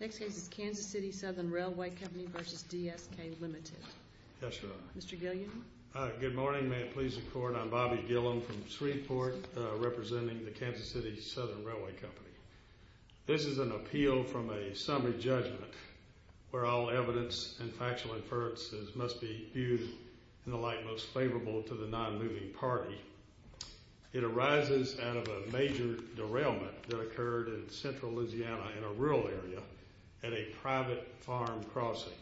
Next case is Kansas City Southern Rwy Co. v. DSK Ltd. Yes, Your Honor. Mr. Gilliam. Good morning. May it please the Court, I'm Bobby Gilliam from Shreveport representing the Kansas City Southern Rwy Co. This is an appeal from a summary judgment where all evidence and factual inferences must be viewed in the light most favorable to the non-moving party. It arises out of a major derailment that occurred in central Louisiana in a rural area at a private farm crossing.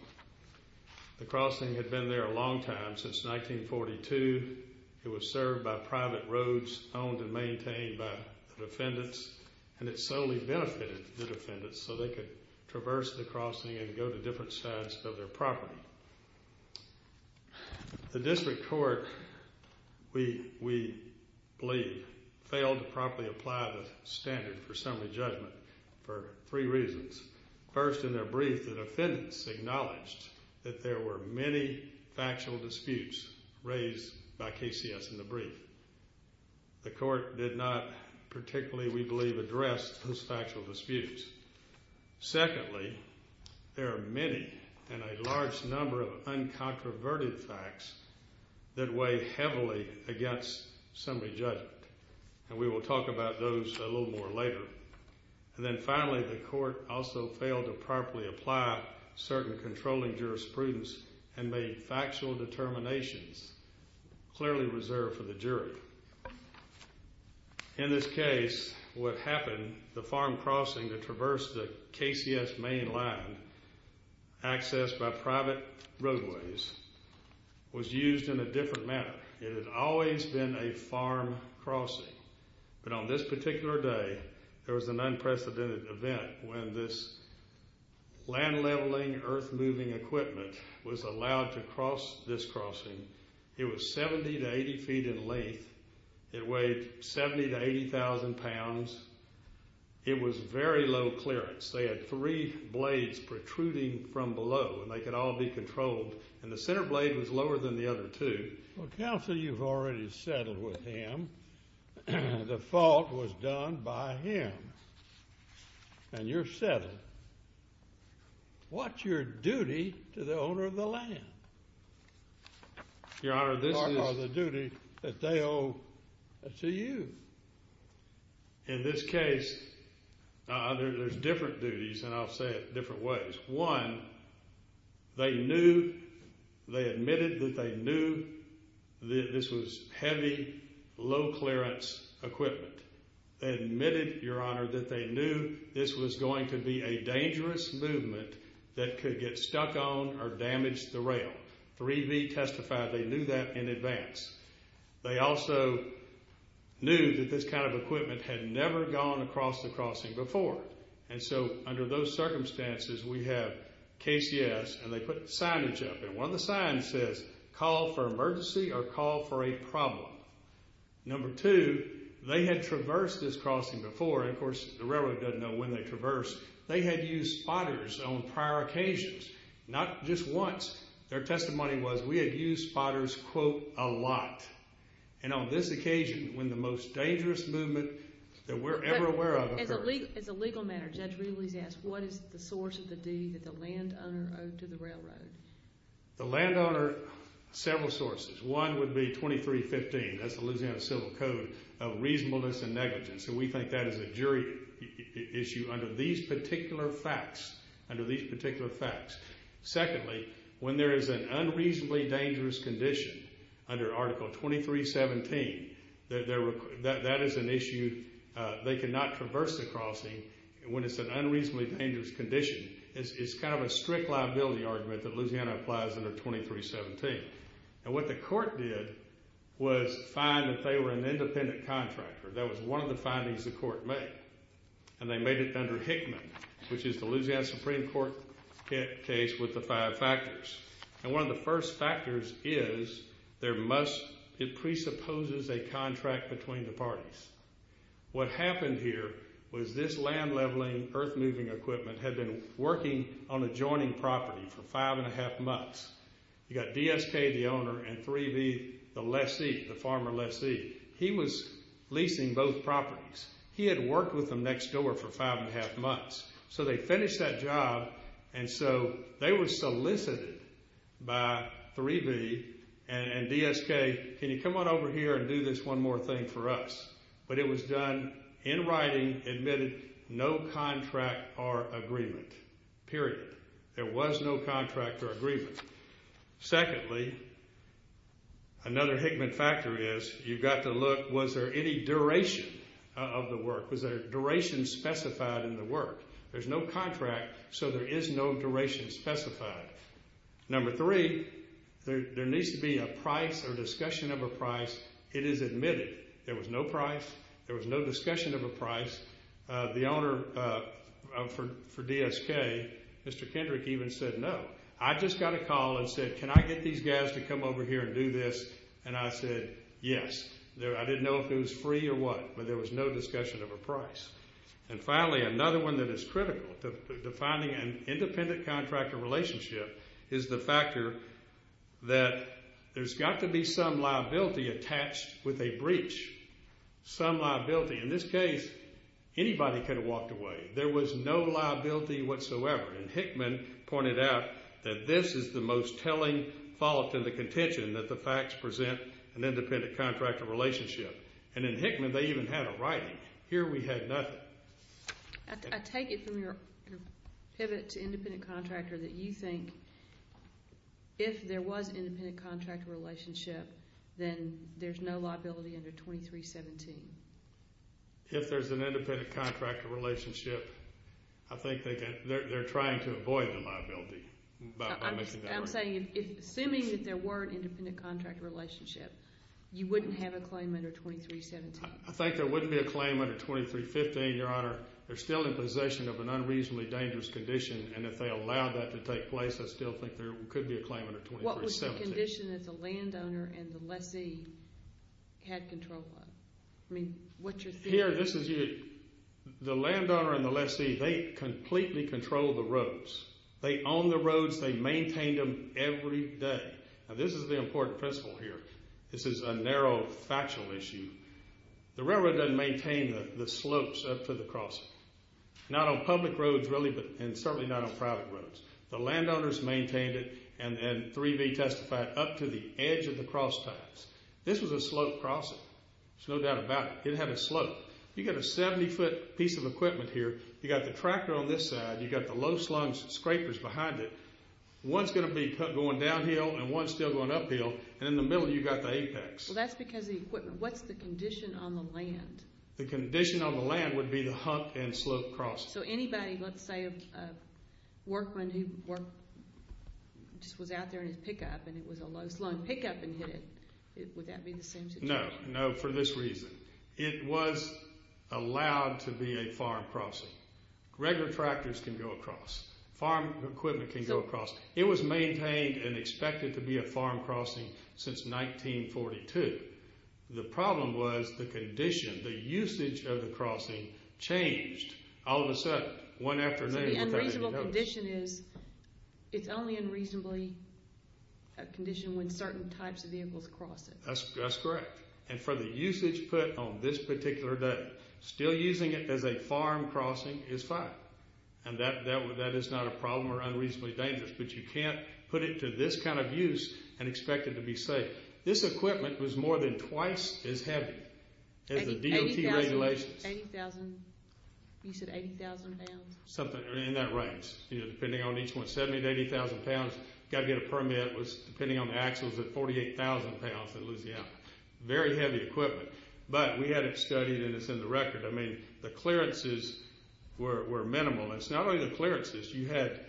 The crossing had been there a long time, since 1942. It was served by private roads owned and maintained by the defendants and it solely benefited the defendants so they could traverse the crossing and go to different sides of their property. The district court, we believe, failed to properly apply the standard for summary judgment for three reasons. First, in their brief, the defendants acknowledged that there were many factual disputes raised by KCS in the brief. The court did not particularly, we believe, address those factual disputes. Secondly, there are many and a large number of uncontroverted facts that weigh heavily against summary judgment. And we will talk about those a little more later. And then finally, the court also failed to properly apply certain controlling jurisprudence and made factual determinations clearly reserved for the jury. In this case, what happened, the farm crossing that traversed the KCS main line accessed by private roadways was used in a different manner. It had always been a farm crossing. But on this particular day, there was an unprecedented event when this land leveling, earth moving equipment was allowed to cross this crossing. It was 70 to 80 feet in length. It weighed 70,000 to 80,000 pounds. It was very low clearance. They had three blades protruding from below, and they could all be controlled. And the center blade was lower than the other two. Counsel, you've already settled with him. The fault was done by him. And you're settled. What's your duty to the owner of the land? Your Honor, this is the duty that they owe to you. In this case, there's different duties, and I'll say it different ways. One, they knew, they admitted that they knew that this was heavy, low clearance equipment. They admitted, Your Honor, that they knew this was going to be a dangerous movement that could get stuck on or damage the rail. 3B testified they knew that in advance. They also knew that this kind of equipment had never gone across the crossing before. And so under those circumstances, we have KCS, and they put signage up. And one of the signs says, call for emergency or call for a problem. Number two, they had traversed this crossing before. And, of course, the railroad doesn't know when they traversed. They had used spotters on prior occasions, not just once. Their testimony was, we had used spotters, quote, a lot. And on this occasion, when the most dangerous movement that we're ever aware of occurred. As a legal matter, Judge Ridley's asked, what is the source of the duty that the landowner owed to the railroad? The landowner, several sources. One would be 2315, that's the Louisiana Civil Code, of reasonableness and negligence. And we think that is a jury issue under these particular facts, under these particular facts. Secondly, when there is an unreasonably dangerous condition under Article 2317, that is an issue they cannot traverse the crossing when it's an unreasonably dangerous condition. It's kind of a strict liability argument that Louisiana applies under 2317. And what the court did was find that they were an independent contractor. That was one of the findings the court made. And they made it under Hickman, which is the Louisiana Supreme Court case with the five factors. And one of the first factors is there must, it presupposes a contract between the parties. What happened here was this land leveling, earth moving equipment had been working on adjoining property for five and a half months. You've got DSK, the owner, and 3B, the lessee, the farmer lessee. He was leasing both properties. He had worked with them next door for five and a half months. So they finished that job, and so they were solicited by 3B and DSK, can you come on over here and do this one more thing for us? But it was done in writing, admitted, no contract or agreement, period. There was no contract or agreement. Secondly, another Hickman factor is you've got to look, was there any duration of the work? Was there a duration specified in the work? There's no contract, so there is no duration specified. Number three, there needs to be a price or discussion of a price. It is admitted. There was no price. There was no discussion of a price. The owner for DSK, Mr. Kendrick, even said no. I just got a call and said, can I get these guys to come over here and do this? And I said yes. I didn't know if it was free or what, but there was no discussion of a price. And finally, another one that is critical to finding an independent contractor relationship is the factor that there's got to be some liability attached with a breach, some liability. In this case, anybody could have walked away. There was no liability whatsoever. And Hickman pointed out that this is the most telling fault in the contention, that the facts present an independent contractor relationship. And in Hickman, they even had a writing. Here we had nothing. I take it from your pivot to independent contractor that you think if there was an independent contractor relationship, then there's no liability under 2317. If there's an independent contractor relationship, I think they're trying to avoid the liability. I'm saying, assuming that there were an independent contractor relationship, you wouldn't have a claim under 2317. I think there wouldn't be a claim under 2315, Your Honor. They're still in possession of an unreasonably dangerous condition, and if they allowed that to take place, I still think there could be a claim under 2317. What condition did the landowner and the lessee have control of? I mean, what's your theory? The landowner and the lessee, they completely controlled the roads. They owned the roads. They maintained them every day. Now, this is the important principle here. This is a narrow factual issue. The railroad doesn't maintain the slopes up to the crossing. Not on public roads, really, and certainly not on private roads. The landowners maintained it and 3B testified up to the edge of the crosstimes. This was a slope crossing. There's no doubt about it. It had a slope. You've got a 70-foot piece of equipment here. You've got the tractor on this side. You've got the low-slung scrapers behind it. One's going to be going downhill and one's still going uphill, and in the middle, you've got the apex. Well, that's because of the equipment. What's the condition on the land? The condition on the land would be the hump and slope crossing. So anybody, let's say a workman who just was out there in his pickup and it was a low-slung pickup and hit it, would that be the same situation? No, no, for this reason. It was allowed to be a farm crossing. Regular tractors can go across. Farm equipment can go across. It was maintained and expected to be a farm crossing since 1942. The problem was the condition, the usage of the crossing changed. All of a sudden, one afternoon without any notice. So the unreasonable condition is it's only unreasonably a condition when certain types of vehicles cross it. That's correct. And for the usage put on this particular day, still using it as a farm crossing is fine, and that is not a problem or unreasonably dangerous, but you can't put it to this kind of use and expect it to be safe. This equipment was more than twice as heavy as the DOT regulations. You said 80,000 pounds. Something in that range. Depending on each one, 70,000 to 80,000 pounds. You've got to get a permit, depending on the axles, at 48,000 pounds in Louisiana. Very heavy equipment. But we had it studied, and it's in the record. I mean the clearances were minimal. And it's not only the clearances. You had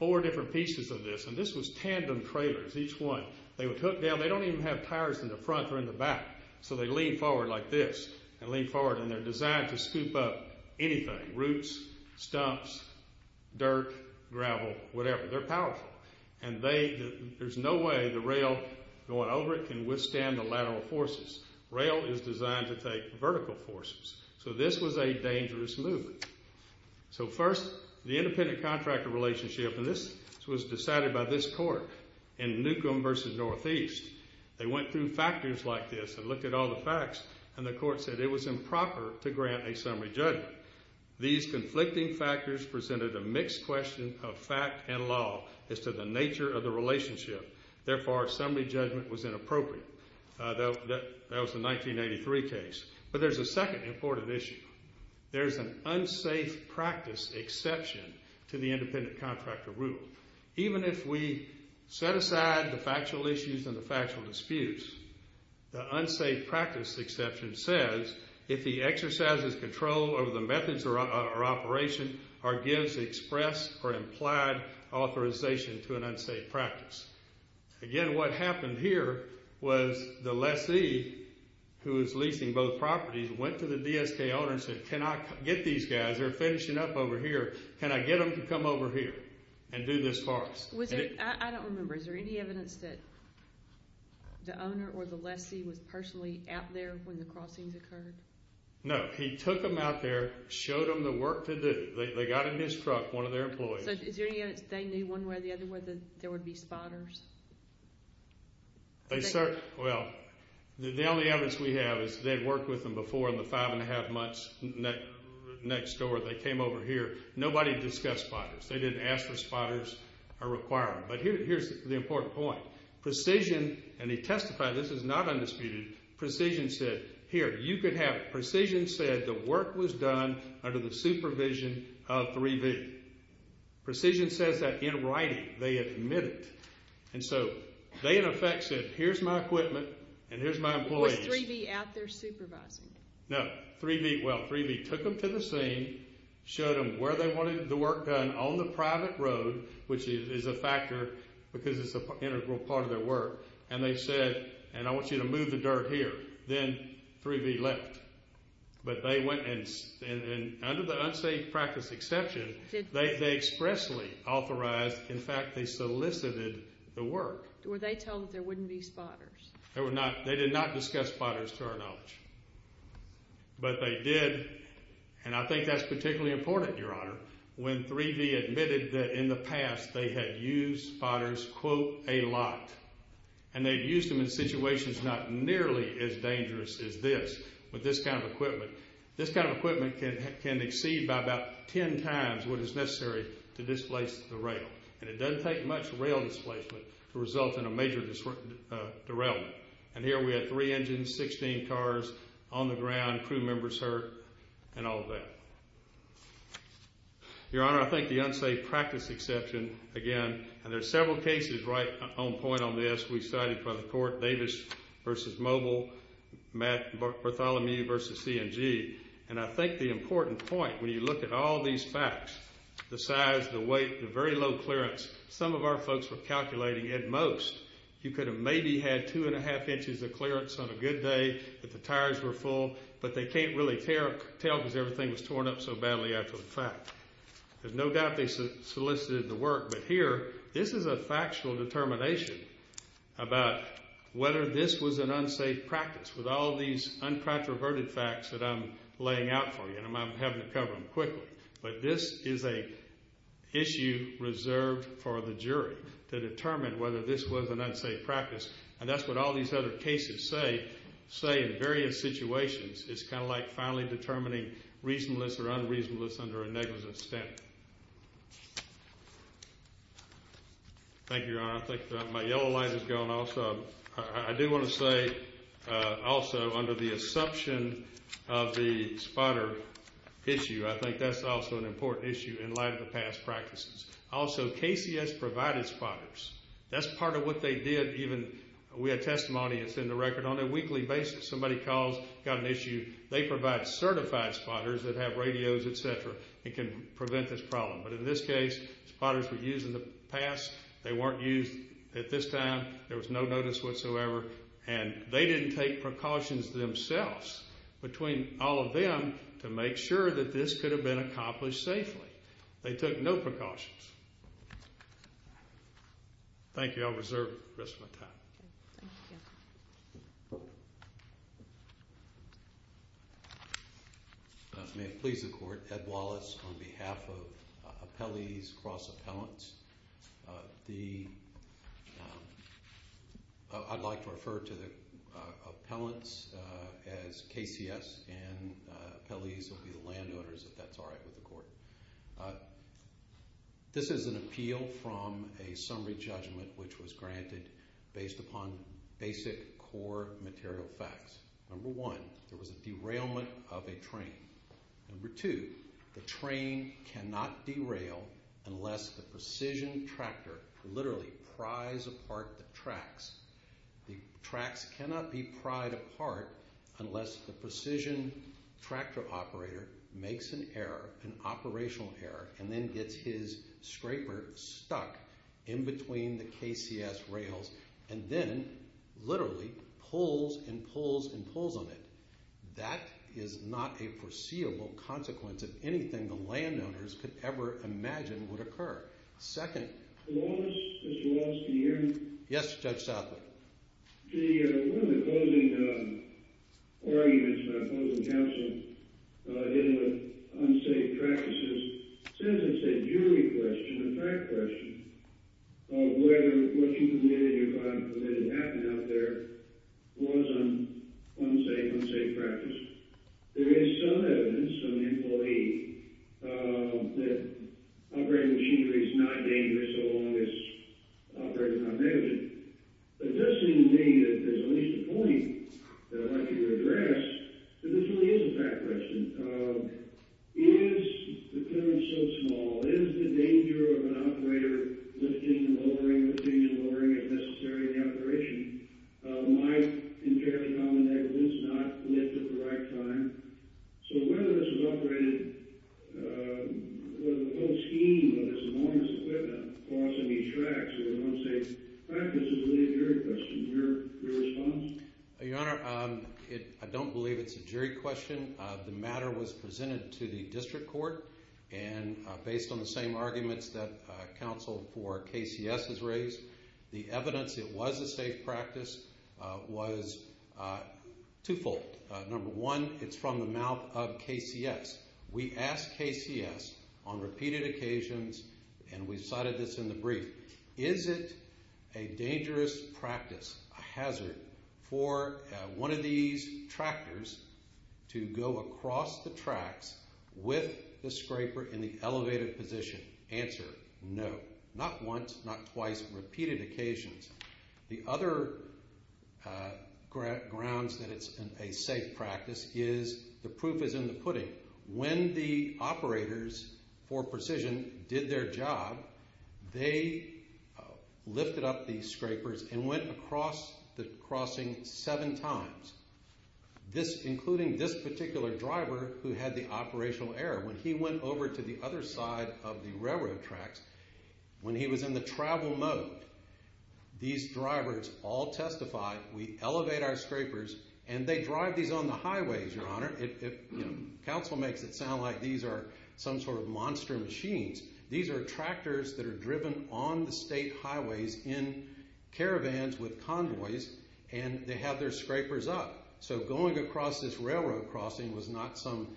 four different pieces of this, and this was tandem trailers, each one. They would hook down. They don't even have tires in the front or in the back, so they lean forward like this and lean forward, and they're designed to scoop up anything, roots, stumps, dirt, gravel, whatever. They're powerful. And there's no way the rail going over it can withstand the lateral forces. Rail is designed to take vertical forces. So this was a dangerous movement. So first, the independent contractor relationship, and this was decided by this court in Newcomb v. Northeast. They went through factors like this and looked at all the facts, and the court said it was improper to grant a summary judgment. These conflicting factors presented a mixed question of fact and law as to the nature of the relationship. Therefore, a summary judgment was inappropriate. That was the 1983 case. But there's a second important issue. There's an unsafe practice exception to the independent contractor rule. Even if we set aside the factual issues and the factual disputes, the unsafe practice exception says, if he exercises control over the methods or operation or gives express or implied authorization to an unsafe practice. Again, what happened here was the lessee, who was leasing both properties, went to the DSK owner and said, Can I get these guys, they're finishing up over here, can I get them to come over here and do this for us? I don't remember. Is there any evidence that the owner or the lessee was personally out there when the crossings occurred? No. He took them out there, showed them the work to do. They got in his truck, one of their employees. So is there any evidence they knew one way or the other whether there would be spotters? Well, the only evidence we have is they'd worked with them before in the five and a half months next door. They came over here. Nobody discussed spotters. They didn't ask for spotters or require them. But here's the important point. Precision, and they testified, this is not undisputed, Precision said, Here, you could have it. Precision said the work was done under the supervision of 3B. Precision says that in writing. They admitted it. And so they, in effect, said, Here's my equipment and here's my employees. Was 3B out there supervising? No. But 3B, well, 3B took them to the scene, showed them where they wanted the work done on the private road, which is a factor because it's an integral part of their work, and they said, And I want you to move the dirt here. Then 3B left. But they went and under the unsafe practice exception, they expressly authorized, in fact, they solicited the work. Were they told that there wouldn't be spotters? They did not discuss spotters to our knowledge. But they did, and I think that's particularly important, Your Honor, when 3B admitted that in the past they had used spotters, quote, a lot, and they'd used them in situations not nearly as dangerous as this with this kind of equipment. This kind of equipment can exceed by about ten times what is necessary to displace the rail, and it doesn't take much rail displacement to result in a major derailment. And here we had three engines, 16 cars on the ground, crew members hurt, and all of that. Your Honor, I think the unsafe practice exception, again, and there are several cases right on point on this. We cited by the court Davis v. Mobile, Bartholomew v. C&G, and I think the important point when you look at all these facts, the size, the weight, the very low clearance, some of our folks were calculating at most you could have maybe had two and a half inches of clearance on a good day if the tires were full, but they can't really tell because everything was torn up so badly after the fact. There's no doubt they solicited the work, but here this is a factual determination about whether this was an unsafe practice with all these uncontroverted facts that I'm laying out for you, and I'm having to cover them quickly. But this is an issue reserved for the jury to determine whether this was an unsafe practice, and that's what all these other cases say in various situations. It's kind of like finally determining reasonableness or unreasonableness under a negligence standard. Thank you, Your Honor. I think my yellow line is gone also. I do want to say also under the assumption of the spotter issue, I think that's also an important issue in light of the past practices. Also, KCS provided spotters. That's part of what they did. We had testimony that's in the record on a weekly basis. Somebody calls, got an issue, they provide certified spotters that have radios, et cetera, that can prevent this problem. But in this case, spotters were used in the past. They weren't used at this time. There was no notice whatsoever, and they didn't take precautions themselves between all of them to make sure that this could have been accomplished safely. They took no precautions. Thank you. I'll reserve the rest of my time. Thank you. May it please the Court, Ed Wallace on behalf of Appellees Cross Appellants. I'd like to refer to the appellants as KCS and appellees will be the landowners, if that's all right with the Court. This is an appeal from a summary judgment which was granted based upon basic core material facts. Number one, there was a derailment of a train. Number two, the train cannot derail unless the precision tractor literally pries apart the tracks. The tracks cannot be pried apart unless the precision tractor operator makes an error, an operational error, and then gets his scraper stuck in between the KCS rails and then literally pulls and pulls and pulls on it. That is not a foreseeable consequence of anything the landowners could ever imagine would occur. Second... Mr. Wallace, can you hear me? Yes, Judge Southerly. One of the closing arguments by opposing counsel dealing with unsafe practices says it's a jury question, a fact question, of whether what you committed, if I'm permitted to happen out there, was an unsafe, unsafe practice. There is some evidence, some employee, that operating machinery is not dangerous so long as operators are not negligent. It does seem to me that there's at least a point that I'd like you to address that this really is a fact question. Is the penalty so small? Is the danger of an operator lifting and lowering, as necessary in the operation, might, in fairly common negligence, not lift at the right time? So whether this was operated, the whole scheme of this enormous equipment crossing these tracks is an unsafe practice. Is it really a jury question? Your response? Your Honor, I don't believe it's a jury question. The matter was presented to the district court, and based on the same arguments that counsel for KCS has raised, the evidence it was a safe practice was twofold. Number one, it's from the mouth of KCS. We asked KCS on repeated occasions, and we cited this in the brief, is it a dangerous practice, a hazard, for one of these tractors to go across the tracks with the scraper in the elevated position? Answer, no. Not once, not twice, repeated occasions. The other grounds that it's a safe practice is the proof is in the pudding. When the operators for precision did their job, they lifted up the scrapers and went across the crossing seven times, including this particular driver who had the operational error. When he went over to the other side of the railroad tracks, when he was in the travel mode, these drivers all testified, we elevate our scrapers, and they drive these on the highways, Your Honor. Counsel makes it sound like these are some sort of monster machines. These are tractors that are driven on the state highways in caravans with convoys, and they have their scrapers up. So going across this railroad crossing was not some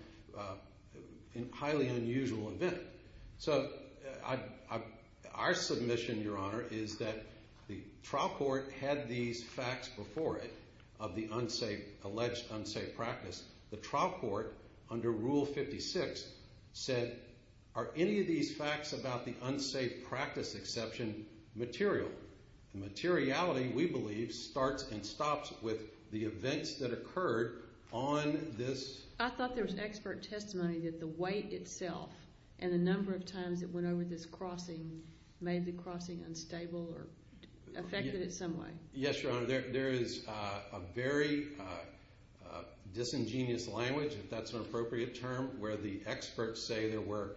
highly unusual event. So our submission, Your Honor, is that the trial court had these facts before it of the alleged unsafe practice. The trial court, under Rule 56, said, are any of these facts about the unsafe practice exception material? The materiality, we believe, starts and stops with the events that occurred on this... I thought there was expert testimony that the weight itself and the number of times it went over this crossing made the crossing unstable or affected it some way. Yes, Your Honor. There is a very disingenuous language, if that's an appropriate term, where the experts say there were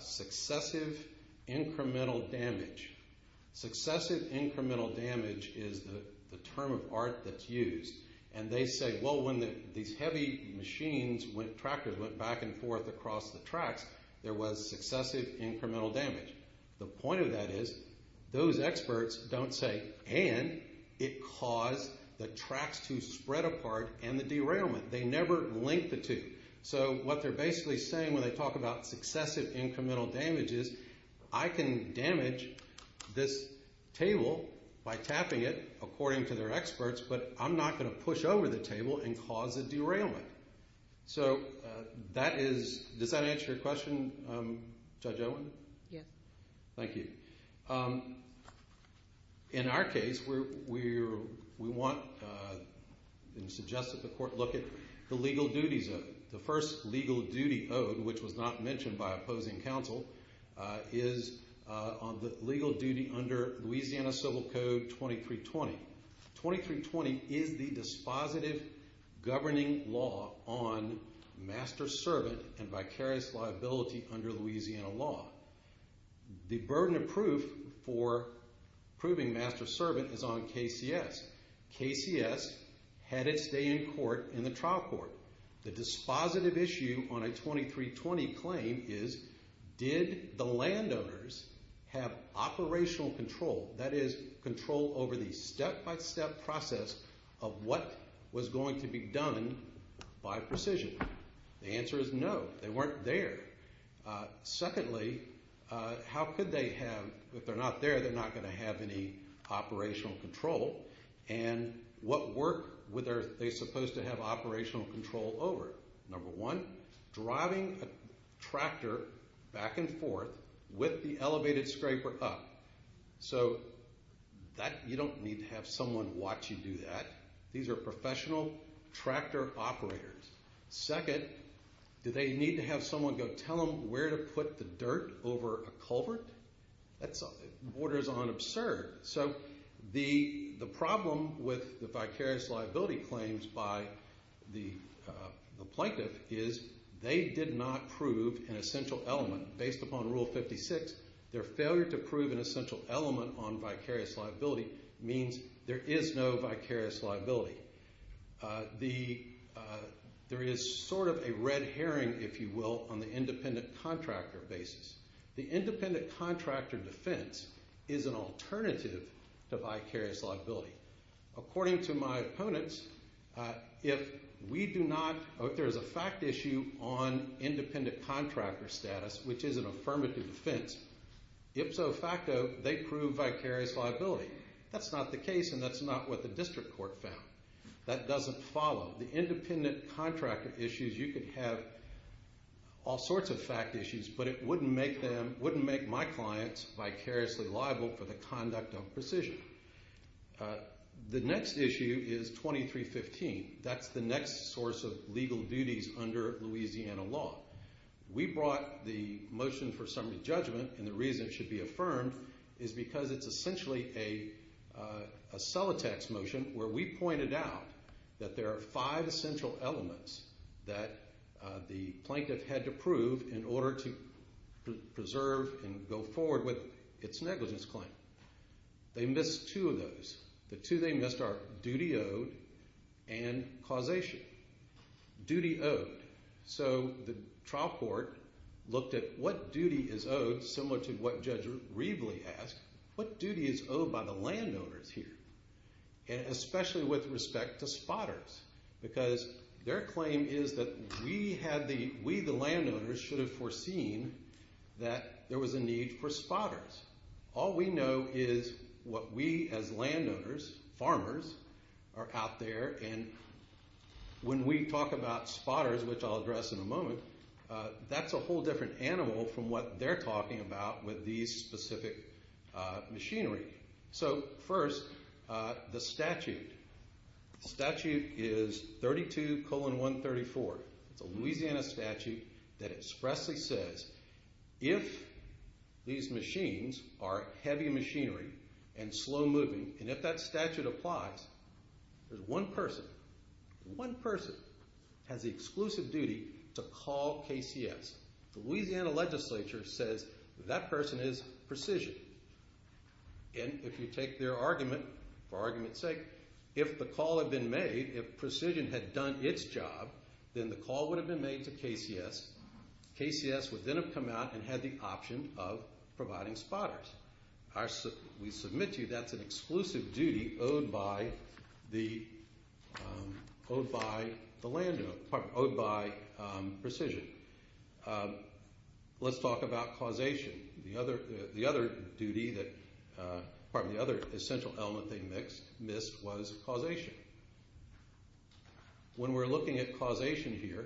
successive incremental damage. Successive incremental damage is the term of art that's used, and they say, well, when these heavy machines, tractors went back and forth across the tracks, there was successive incremental damage. The point of that is, those experts don't say, and it caused the tracks to spread apart and the derailment. They never link the two. So what they're basically saying when they talk about successive incremental damage is, I can damage this table by tapping it, according to their experts, but I'm not going to push over the table and cause a derailment. So that is... Does that answer your question, Judge Owen? Yes. Thank you. In our case, we want and suggest that the court look at the legal duties of it. The first legal duty owed, which was not mentioned by opposing counsel, is on the legal duty under Louisiana Civil Code 2320. 2320 is the dispositive governing law on master-servant and vicarious liability under Louisiana law. The burden of proof for proving master-servant is on KCS. KCS had its day in court in the trial court. The dispositive issue on a 2320 claim is, did the landowners have operational control, that is, control over the step-by-step process of what was going to be done by precision? The answer is no. They weren't there. Secondly, how could they have... If they're not there, they're not going to have any operational control. And what work were they supposed to have operational control over? Number one, driving a tractor back and forth with the elevated scraper up. So you don't need to have someone watch you do that. These are professional tractor operators. Second, do they need to have someone go tell them where to put the dirt over a culvert? That borders on absurd. So the problem with the vicarious liability claims by the plaintiff is they did not prove an essential element. Based upon Rule 56, their failure to prove an essential element on vicarious liability means there is no vicarious liability. There is sort of a red herring, if you will, on the independent contractor basis. The independent contractor defense is an alternative to vicarious liability. According to my opponents, if we do not... If there is a fact issue on independent contractor status, which is an affirmative defense, ipso facto, they prove vicarious liability. That's not the case, and that's not what the district court found. That doesn't follow. The independent contractor issues, you could have all sorts of fact issues, but it wouldn't make my clients vicariously liable for the conduct of precision. The next issue is 2315. That's the next source of legal duties under Louisiana law. We brought the motion for summary judgment, and the reason it should be affirmed is because it's essentially a cellotax motion where we pointed out that there are five essential elements that the plaintiff had to prove in order to preserve and go forward with its negligence claim. They missed two of those. The two they missed are duty owed and causation. Duty owed. So the trial court looked at what duty is owed similar to what Judge Reveley asked. What duty is owed by the landowners here, especially with respect to spotters? Because their claim is that we, the landowners, should have foreseen that there was a need for spotters. All we know is what we as landowners, farmers, are out there, and when we talk about spotters, which I'll address in a moment, that's a whole different animal from what they're talking about with these specific machinery. So first, the statute. The statute is 32-134. It's a Louisiana statute that expressly says if these machines are heavy machinery and slow moving, and if that statute applies, there's one person, one person has the exclusive duty to call KCS. The Louisiana legislature says that person is Precision. And if you take their argument, for argument's sake, if the call had been made, if Precision had done its job, then the call would have been made to KCS. KCS would then have come out and had the option of providing spotters. We submit to you that's an exclusive duty owed by Precision. Let's talk about causation. The other essential element they missed was causation. When we're looking at causation here,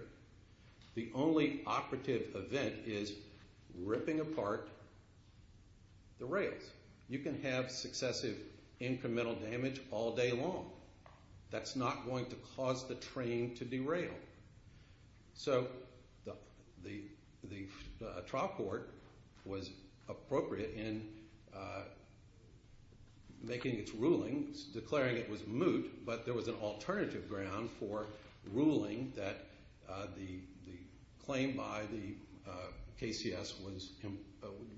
the only operative event is ripping apart the rails. You can have successive incremental damage all day long. That's not going to cause the train to derail. So the trial court was appropriate in making its rulings, declaring it was moot, but there was an alternative ground for ruling that the claim by the KCS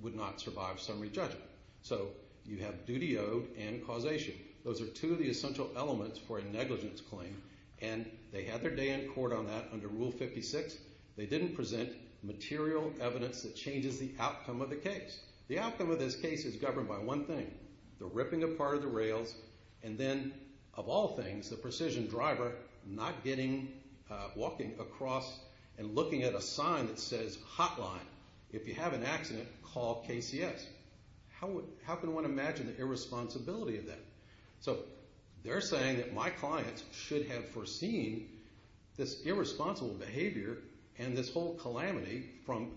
would not survive summary judgment. So you have duty owed and causation. Those are two of the essential elements for a negligence claim. And they had their day in court on that under Rule 56. They didn't present material evidence that changes the outcome of the case. The outcome of this case is governed by one thing, the ripping apart of the rails, and then, of all things, the Precision driver not walking across and looking at a sign that says, hotline, if you have an accident, call KCS. How can one imagine the irresponsibility of that? So they're saying that my clients should have foreseen this irresponsible behavior and this whole calamity from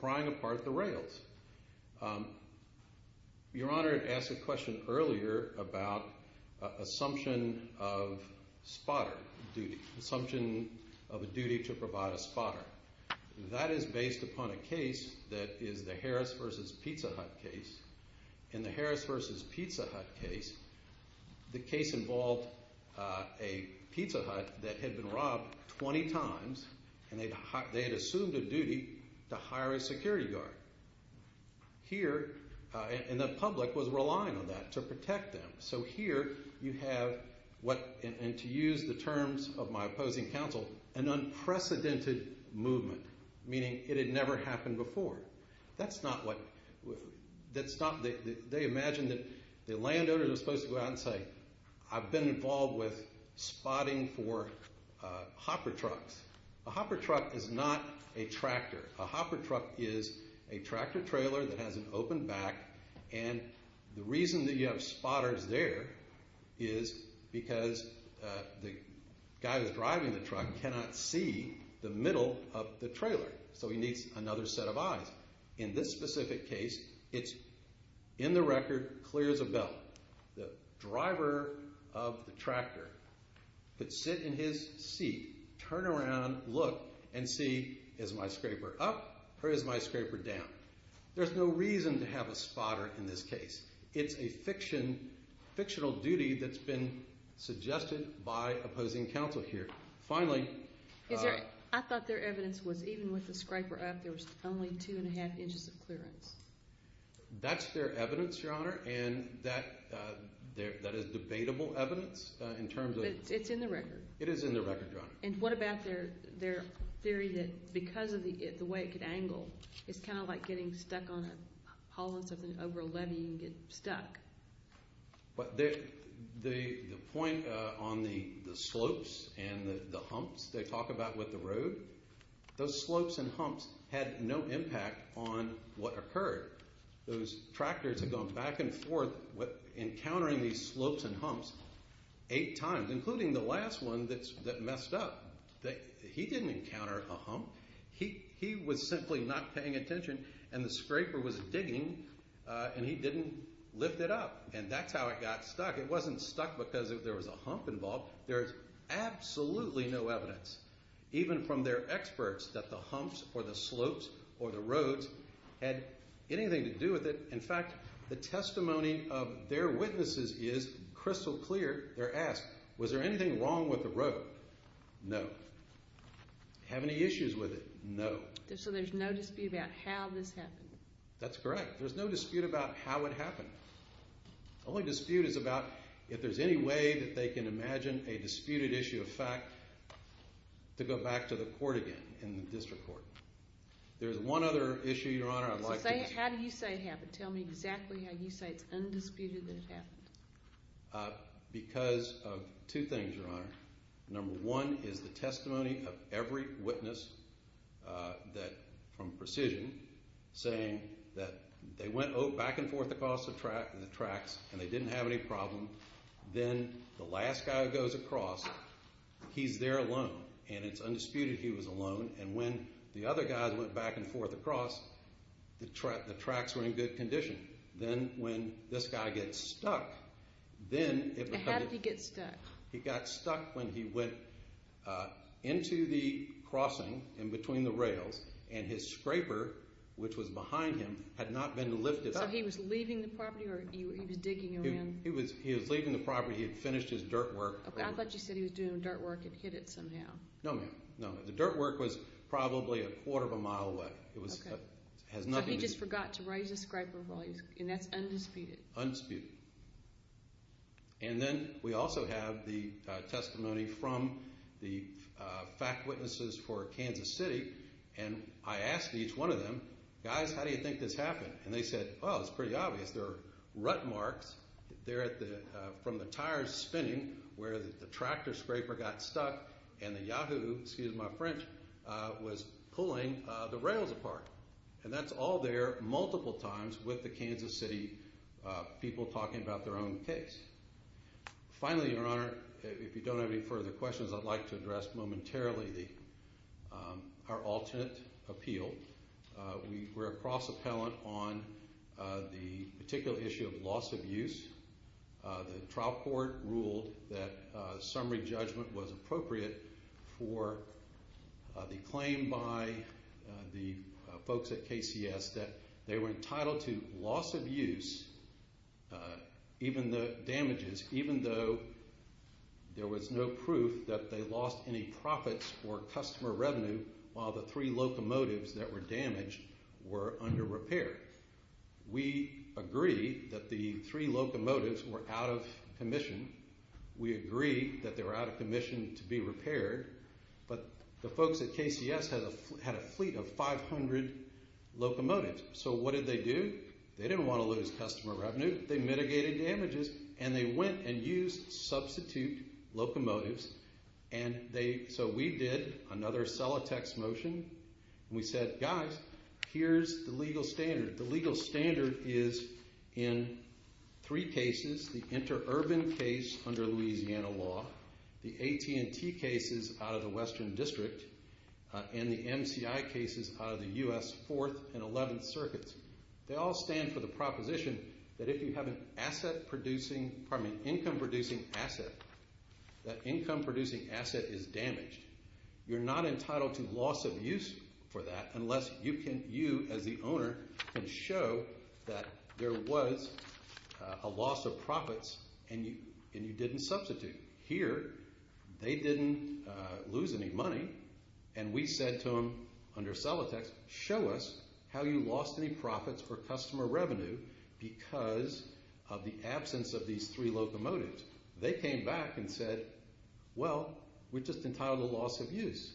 prying apart the rails. Your Honor asked a question earlier about assumption of spotter duty, assumption of a duty to provide a spotter. That is based upon a case that is the Harris v. Pizza Hut case. In the Harris v. Pizza Hut case, the case involved a pizza hut that had been robbed 20 times, and they had assumed a duty to hire a security guard. Here, and the public was relying on that to protect them. So here, you have what, and to use the terms of my opposing counsel, an unprecedented movement, meaning it had never happened before. That's not what, that's not, they imagine that the landowners are supposed to go out and say, I've been involved with spotting for hopper trucks. A hopper truck is not a tractor. A hopper truck is a tractor trailer that has an open back, and the reason that you have spotters there is because the guy that's driving the truck cannot see the middle of the trailer, so he needs another set of eyes. In this specific case, it's in the record, clear as a bell. The driver of the tractor could sit in his seat, turn around, look, and see, is my scraper up or is my scraper down? There's no reason to have a spotter in this case. It's a fictional duty that's been suggested by opposing counsel here. Finally... I thought their evidence was even with the scraper up, there was only 2 1⁄2 inches of clearance. That's their evidence, Your Honor, and that is debatable evidence in terms of... It's in the record. And what about their theory that because of the way it could angle, it's kind of like getting stuck on a hauling something over a levee and get stuck? The point on the slopes and the humps they talk about with the road, those slopes and humps had no impact on what occurred. Those tractors had gone back and forth encountering these slopes and humps eight times, including the last one that messed up. He didn't encounter a hump. He was simply not paying attention, and the scraper was digging and he didn't lift it up, and that's how it got stuck. It wasn't stuck because there was a hump involved. There's absolutely no evidence, even from their experts, that the humps or the slopes or the roads had anything to do with it. In fact, the testimony of their witnesses is crystal clear. They're asked, was there anything wrong with the road? No. Have any issues with it? No. So there's no dispute about how this happened? That's correct. There's no dispute about how it happened. The only dispute is about if there's any way that they can imagine a disputed issue of fact to go back to the court again in the district court. There's one other issue, Your Honor, I'd like to mention. How do you say it happened? Tell me exactly how you say it's undisputed that it happened. Because of two things, Your Honor. Number one is the testimony of every witness from Precision saying that they went back and forth across the tracks and they didn't have any problem. Then the last guy who goes across, he's there alone, and it's undisputed he was alone. And when the other guys went back and forth across, the tracks were in good condition. Then when this guy gets stuck, then it becomes a How did he get stuck? He got stuck when he went into the crossing in between the rails and his scraper, which was behind him, had not been lifted. So he was leaving the property or he was digging around? He was leaving the property. He had finished his dirt work. Okay, I thought you said he was doing dirt work and hit it somehow. No, ma'am. No, ma'am. The dirt work was probably a quarter of a mile away. So he just forgot to raise his scraper, and that's undisputed? Undisputed. And then we also have the testimony from the fact witnesses for Kansas City. And I asked each one of them, Guys, how do you think this happened? And they said, Oh, it's pretty obvious. There are rut marks from the tires spinning where the tractor scraper got stuck and the Yahoo, excuse my French, was pulling the rails apart. And that's all there multiple times with the Kansas City people talking about their own case. Finally, Your Honor, if you don't have any further questions, I'd like to address momentarily our alternate appeal. We were a cross-appellant on the particular issue of loss of use. The trial court ruled that summary judgment was appropriate for the claim by the folks at KCS that they were entitled to loss of use, even the damages, even though there was no proof that they lost any profits or customer revenue while the three locomotives that were damaged were under repair. We agree that the three locomotives were out of commission. We agree that they were out of commission to be repaired. But the folks at KCS had a fleet of 500 locomotives. So what did they do? They didn't want to lose customer revenue. They mitigated damages. And they went and used substitute locomotives. So we did another cellotex motion. We said, Guys, here's the legal standard. The legal standard is in three cases, the interurban case under Louisiana law, the AT&T cases out of the Western District, and the MCI cases out of the U.S. Fourth and Eleventh Circuits. They all stand for the proposition that if you have an asset-producing, pardon me, income-producing asset, that income-producing asset is damaged. You're not entitled to loss of use for that unless you as the owner can show that there was a loss of profits and you didn't substitute. Here, they didn't lose any money. And we said to them under cellotex, Show us how you lost any profits or customer revenue because of the absence of these three locomotives. They came back and said, Well, we're just entitled to loss of use.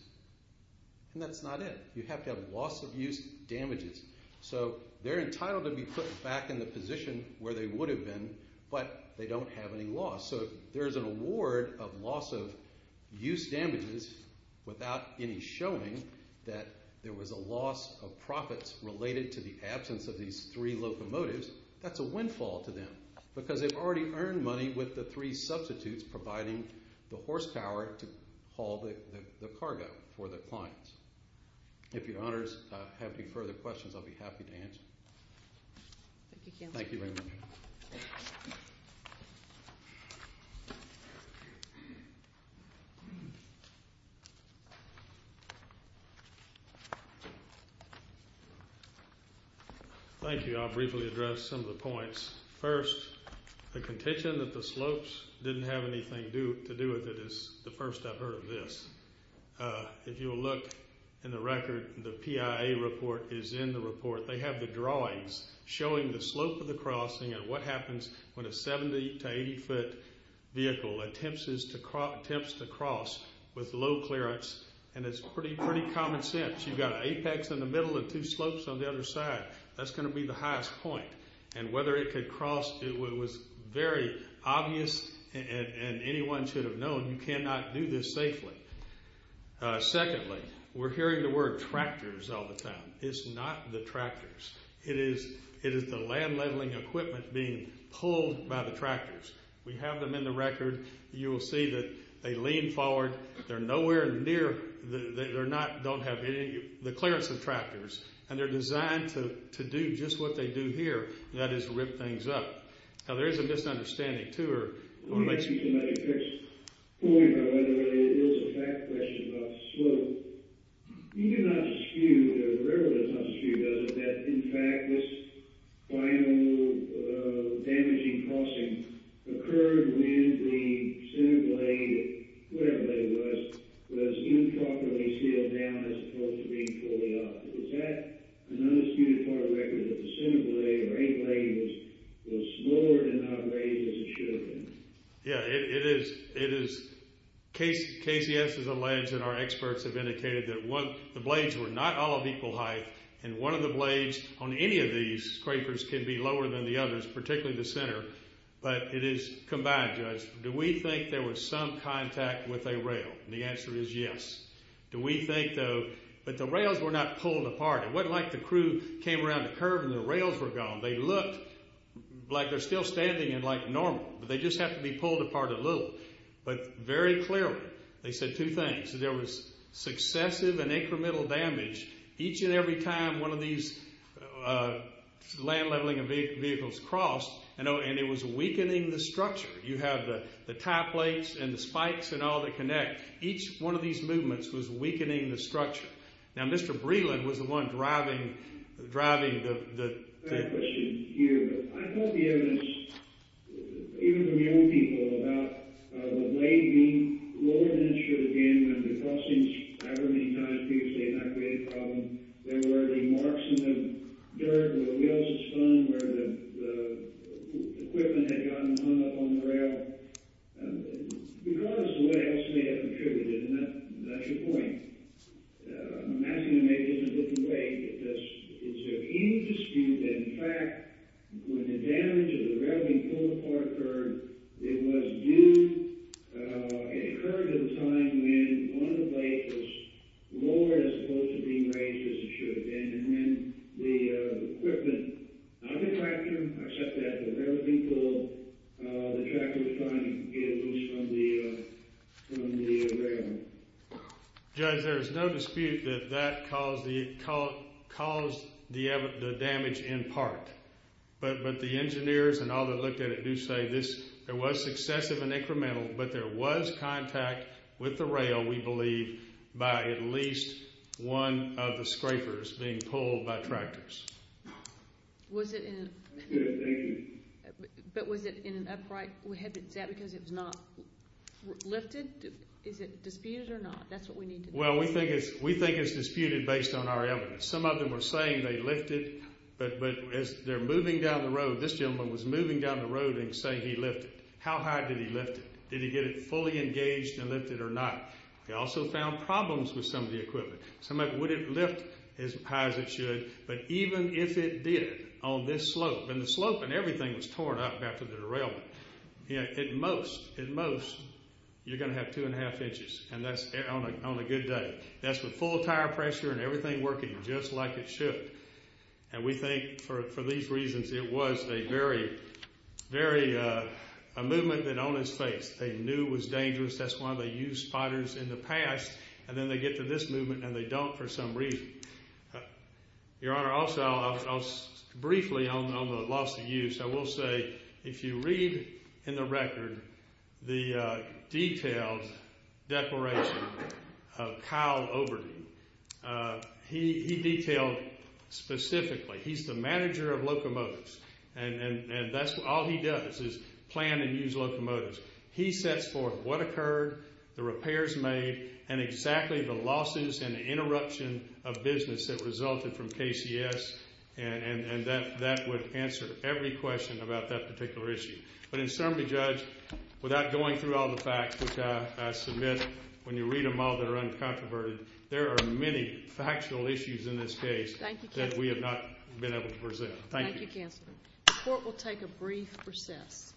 And that's not it. You have to have loss of use damages. So they're entitled to be put back in the position where they would have been, but they don't have any loss. So if there's an award of loss of use damages without any showing that there was a loss of profits related to the absence of these three locomotives, that's a windfall to them because they've already earned money with the three substitutes providing the horsepower to haul the cargo for the clients. If your honors have any further questions, I'll be happy to answer. Thank you very much. Thank you. I'll briefly address some of the points. First, the contention that the slopes didn't have anything to do with it is the first I've heard of this. If you'll look in the record, the PIA report is in the report. They have the drawings showing the slope of the crossing and what happens when a 70- to 80-foot vehicle attempts to cross with low clearance, and it's pretty common sense. You've got an apex in the middle and two slopes on the other side. That's going to be the highest point. And whether it could cross, it was very obvious, and anyone should have known you cannot do this safely. Secondly, we're hearing the word tractors all the time. It's not the tractors. It is the land leveling equipment being pulled by the tractors. We have them in the record. You will see that they lean forward. They're nowhere near the clearance of tractors, and they're designed to do just what they do here, and that is rip things up. Now, there is a misunderstanding, too. I want to make sure somebody picks a point on whether it is a fact question about the slope. You do not skew, the railroad does not skew, does it, that in fact this final damaging crossing occurred when the center blade, whatever that was, was improperly sealed down as opposed to being fully up. Was that another skewed part of the record, that the center blade or any blade was lower and not raised as it should have been? Yeah, it is. KCS has alleged and our experts have indicated that the blades were not all of equal height, and one of the blades on any of these scrapers can be lower than the others, particularly the center, but it is combined, Judge. Do we think there was some contact with a rail? And the answer is yes. Do we think, though, that the rails were not pulled apart? It was not like the crew came around the curve and the rails were gone. They looked like they are still standing and like normal, but they just have to be pulled apart a little, but very clearly they said two things. There was successive and incremental damage each and every time one of these land leveling vehicles crossed, and it was weakening the structure. You have the tie plates and the spikes and all that connect. Each one of these movements was weakening the structure. Now, Mr. Breland was the one driving the... I have a question here. I've heard the evidence, even from young people, about the blade being lower than it should have been when the crossings, I've heard many times, previously had not created a problem. There were marks in the dirt where the wheels had spun, where the equipment had gotten hung up on the rail. Because what else may have contributed? And that's your point. I'm asking you maybe in a different way. Is there any dispute that, in fact, when the damage of the rail being pulled apart occurred, it was due... It occurred at a time when one of the blades was lowered as opposed to being raised as it should have been, and then the equipment, not the tractor, except that the rail being pulled, the tractor was trying to get loose from the rail. Judge, there is no dispute that that caused the damage in part. But the engineers and all that looked at it do say there was successive and incremental, but there was contact with the rail, we believe, by at least one of the scrapers being pulled by tractors. Was it in... But was it in an upright? Was that because it was not lifted? Is it disputed or not? That's what we need to know. Well, we think it's disputed based on our evidence. Some of them are saying they lifted, but as they're moving down the road, this gentleman was moving down the road and saying he lifted. How high did he lift it? Did he get it fully engaged and lifted or not? They also found problems with some of the equipment. Some of it wouldn't lift as high as it should, but even if it did on this slope, and the slope and everything was torn up after the derailment, at most, at most, you're going to have 2 1⁄2 inches, and that's on a good day. That's with full tire pressure and everything working just like it should. And we think for these reasons it was a very, very... a movement that on its face. They knew it was dangerous. That's why they used spotters in the past, and then they get to this movement and they don't for some reason. Your Honor, also briefly on the loss of use, I will say if you read in the record the detailed declaration of Kyle Overton, he detailed specifically. He's the manager of locomotives, and that's all he does is plan and use locomotives. He sets forth what occurred, the repairs made, and exactly the losses and the interruption of business that resulted from KCS, and that would answer every question about that particular issue. But in summary, Judge, without going through all the facts, which I submit when you read them all they're uncontroverted, there are many factual issues in this case that we have not been able to present. Thank you. Thank you, Counselor. The Court will take a brief recess.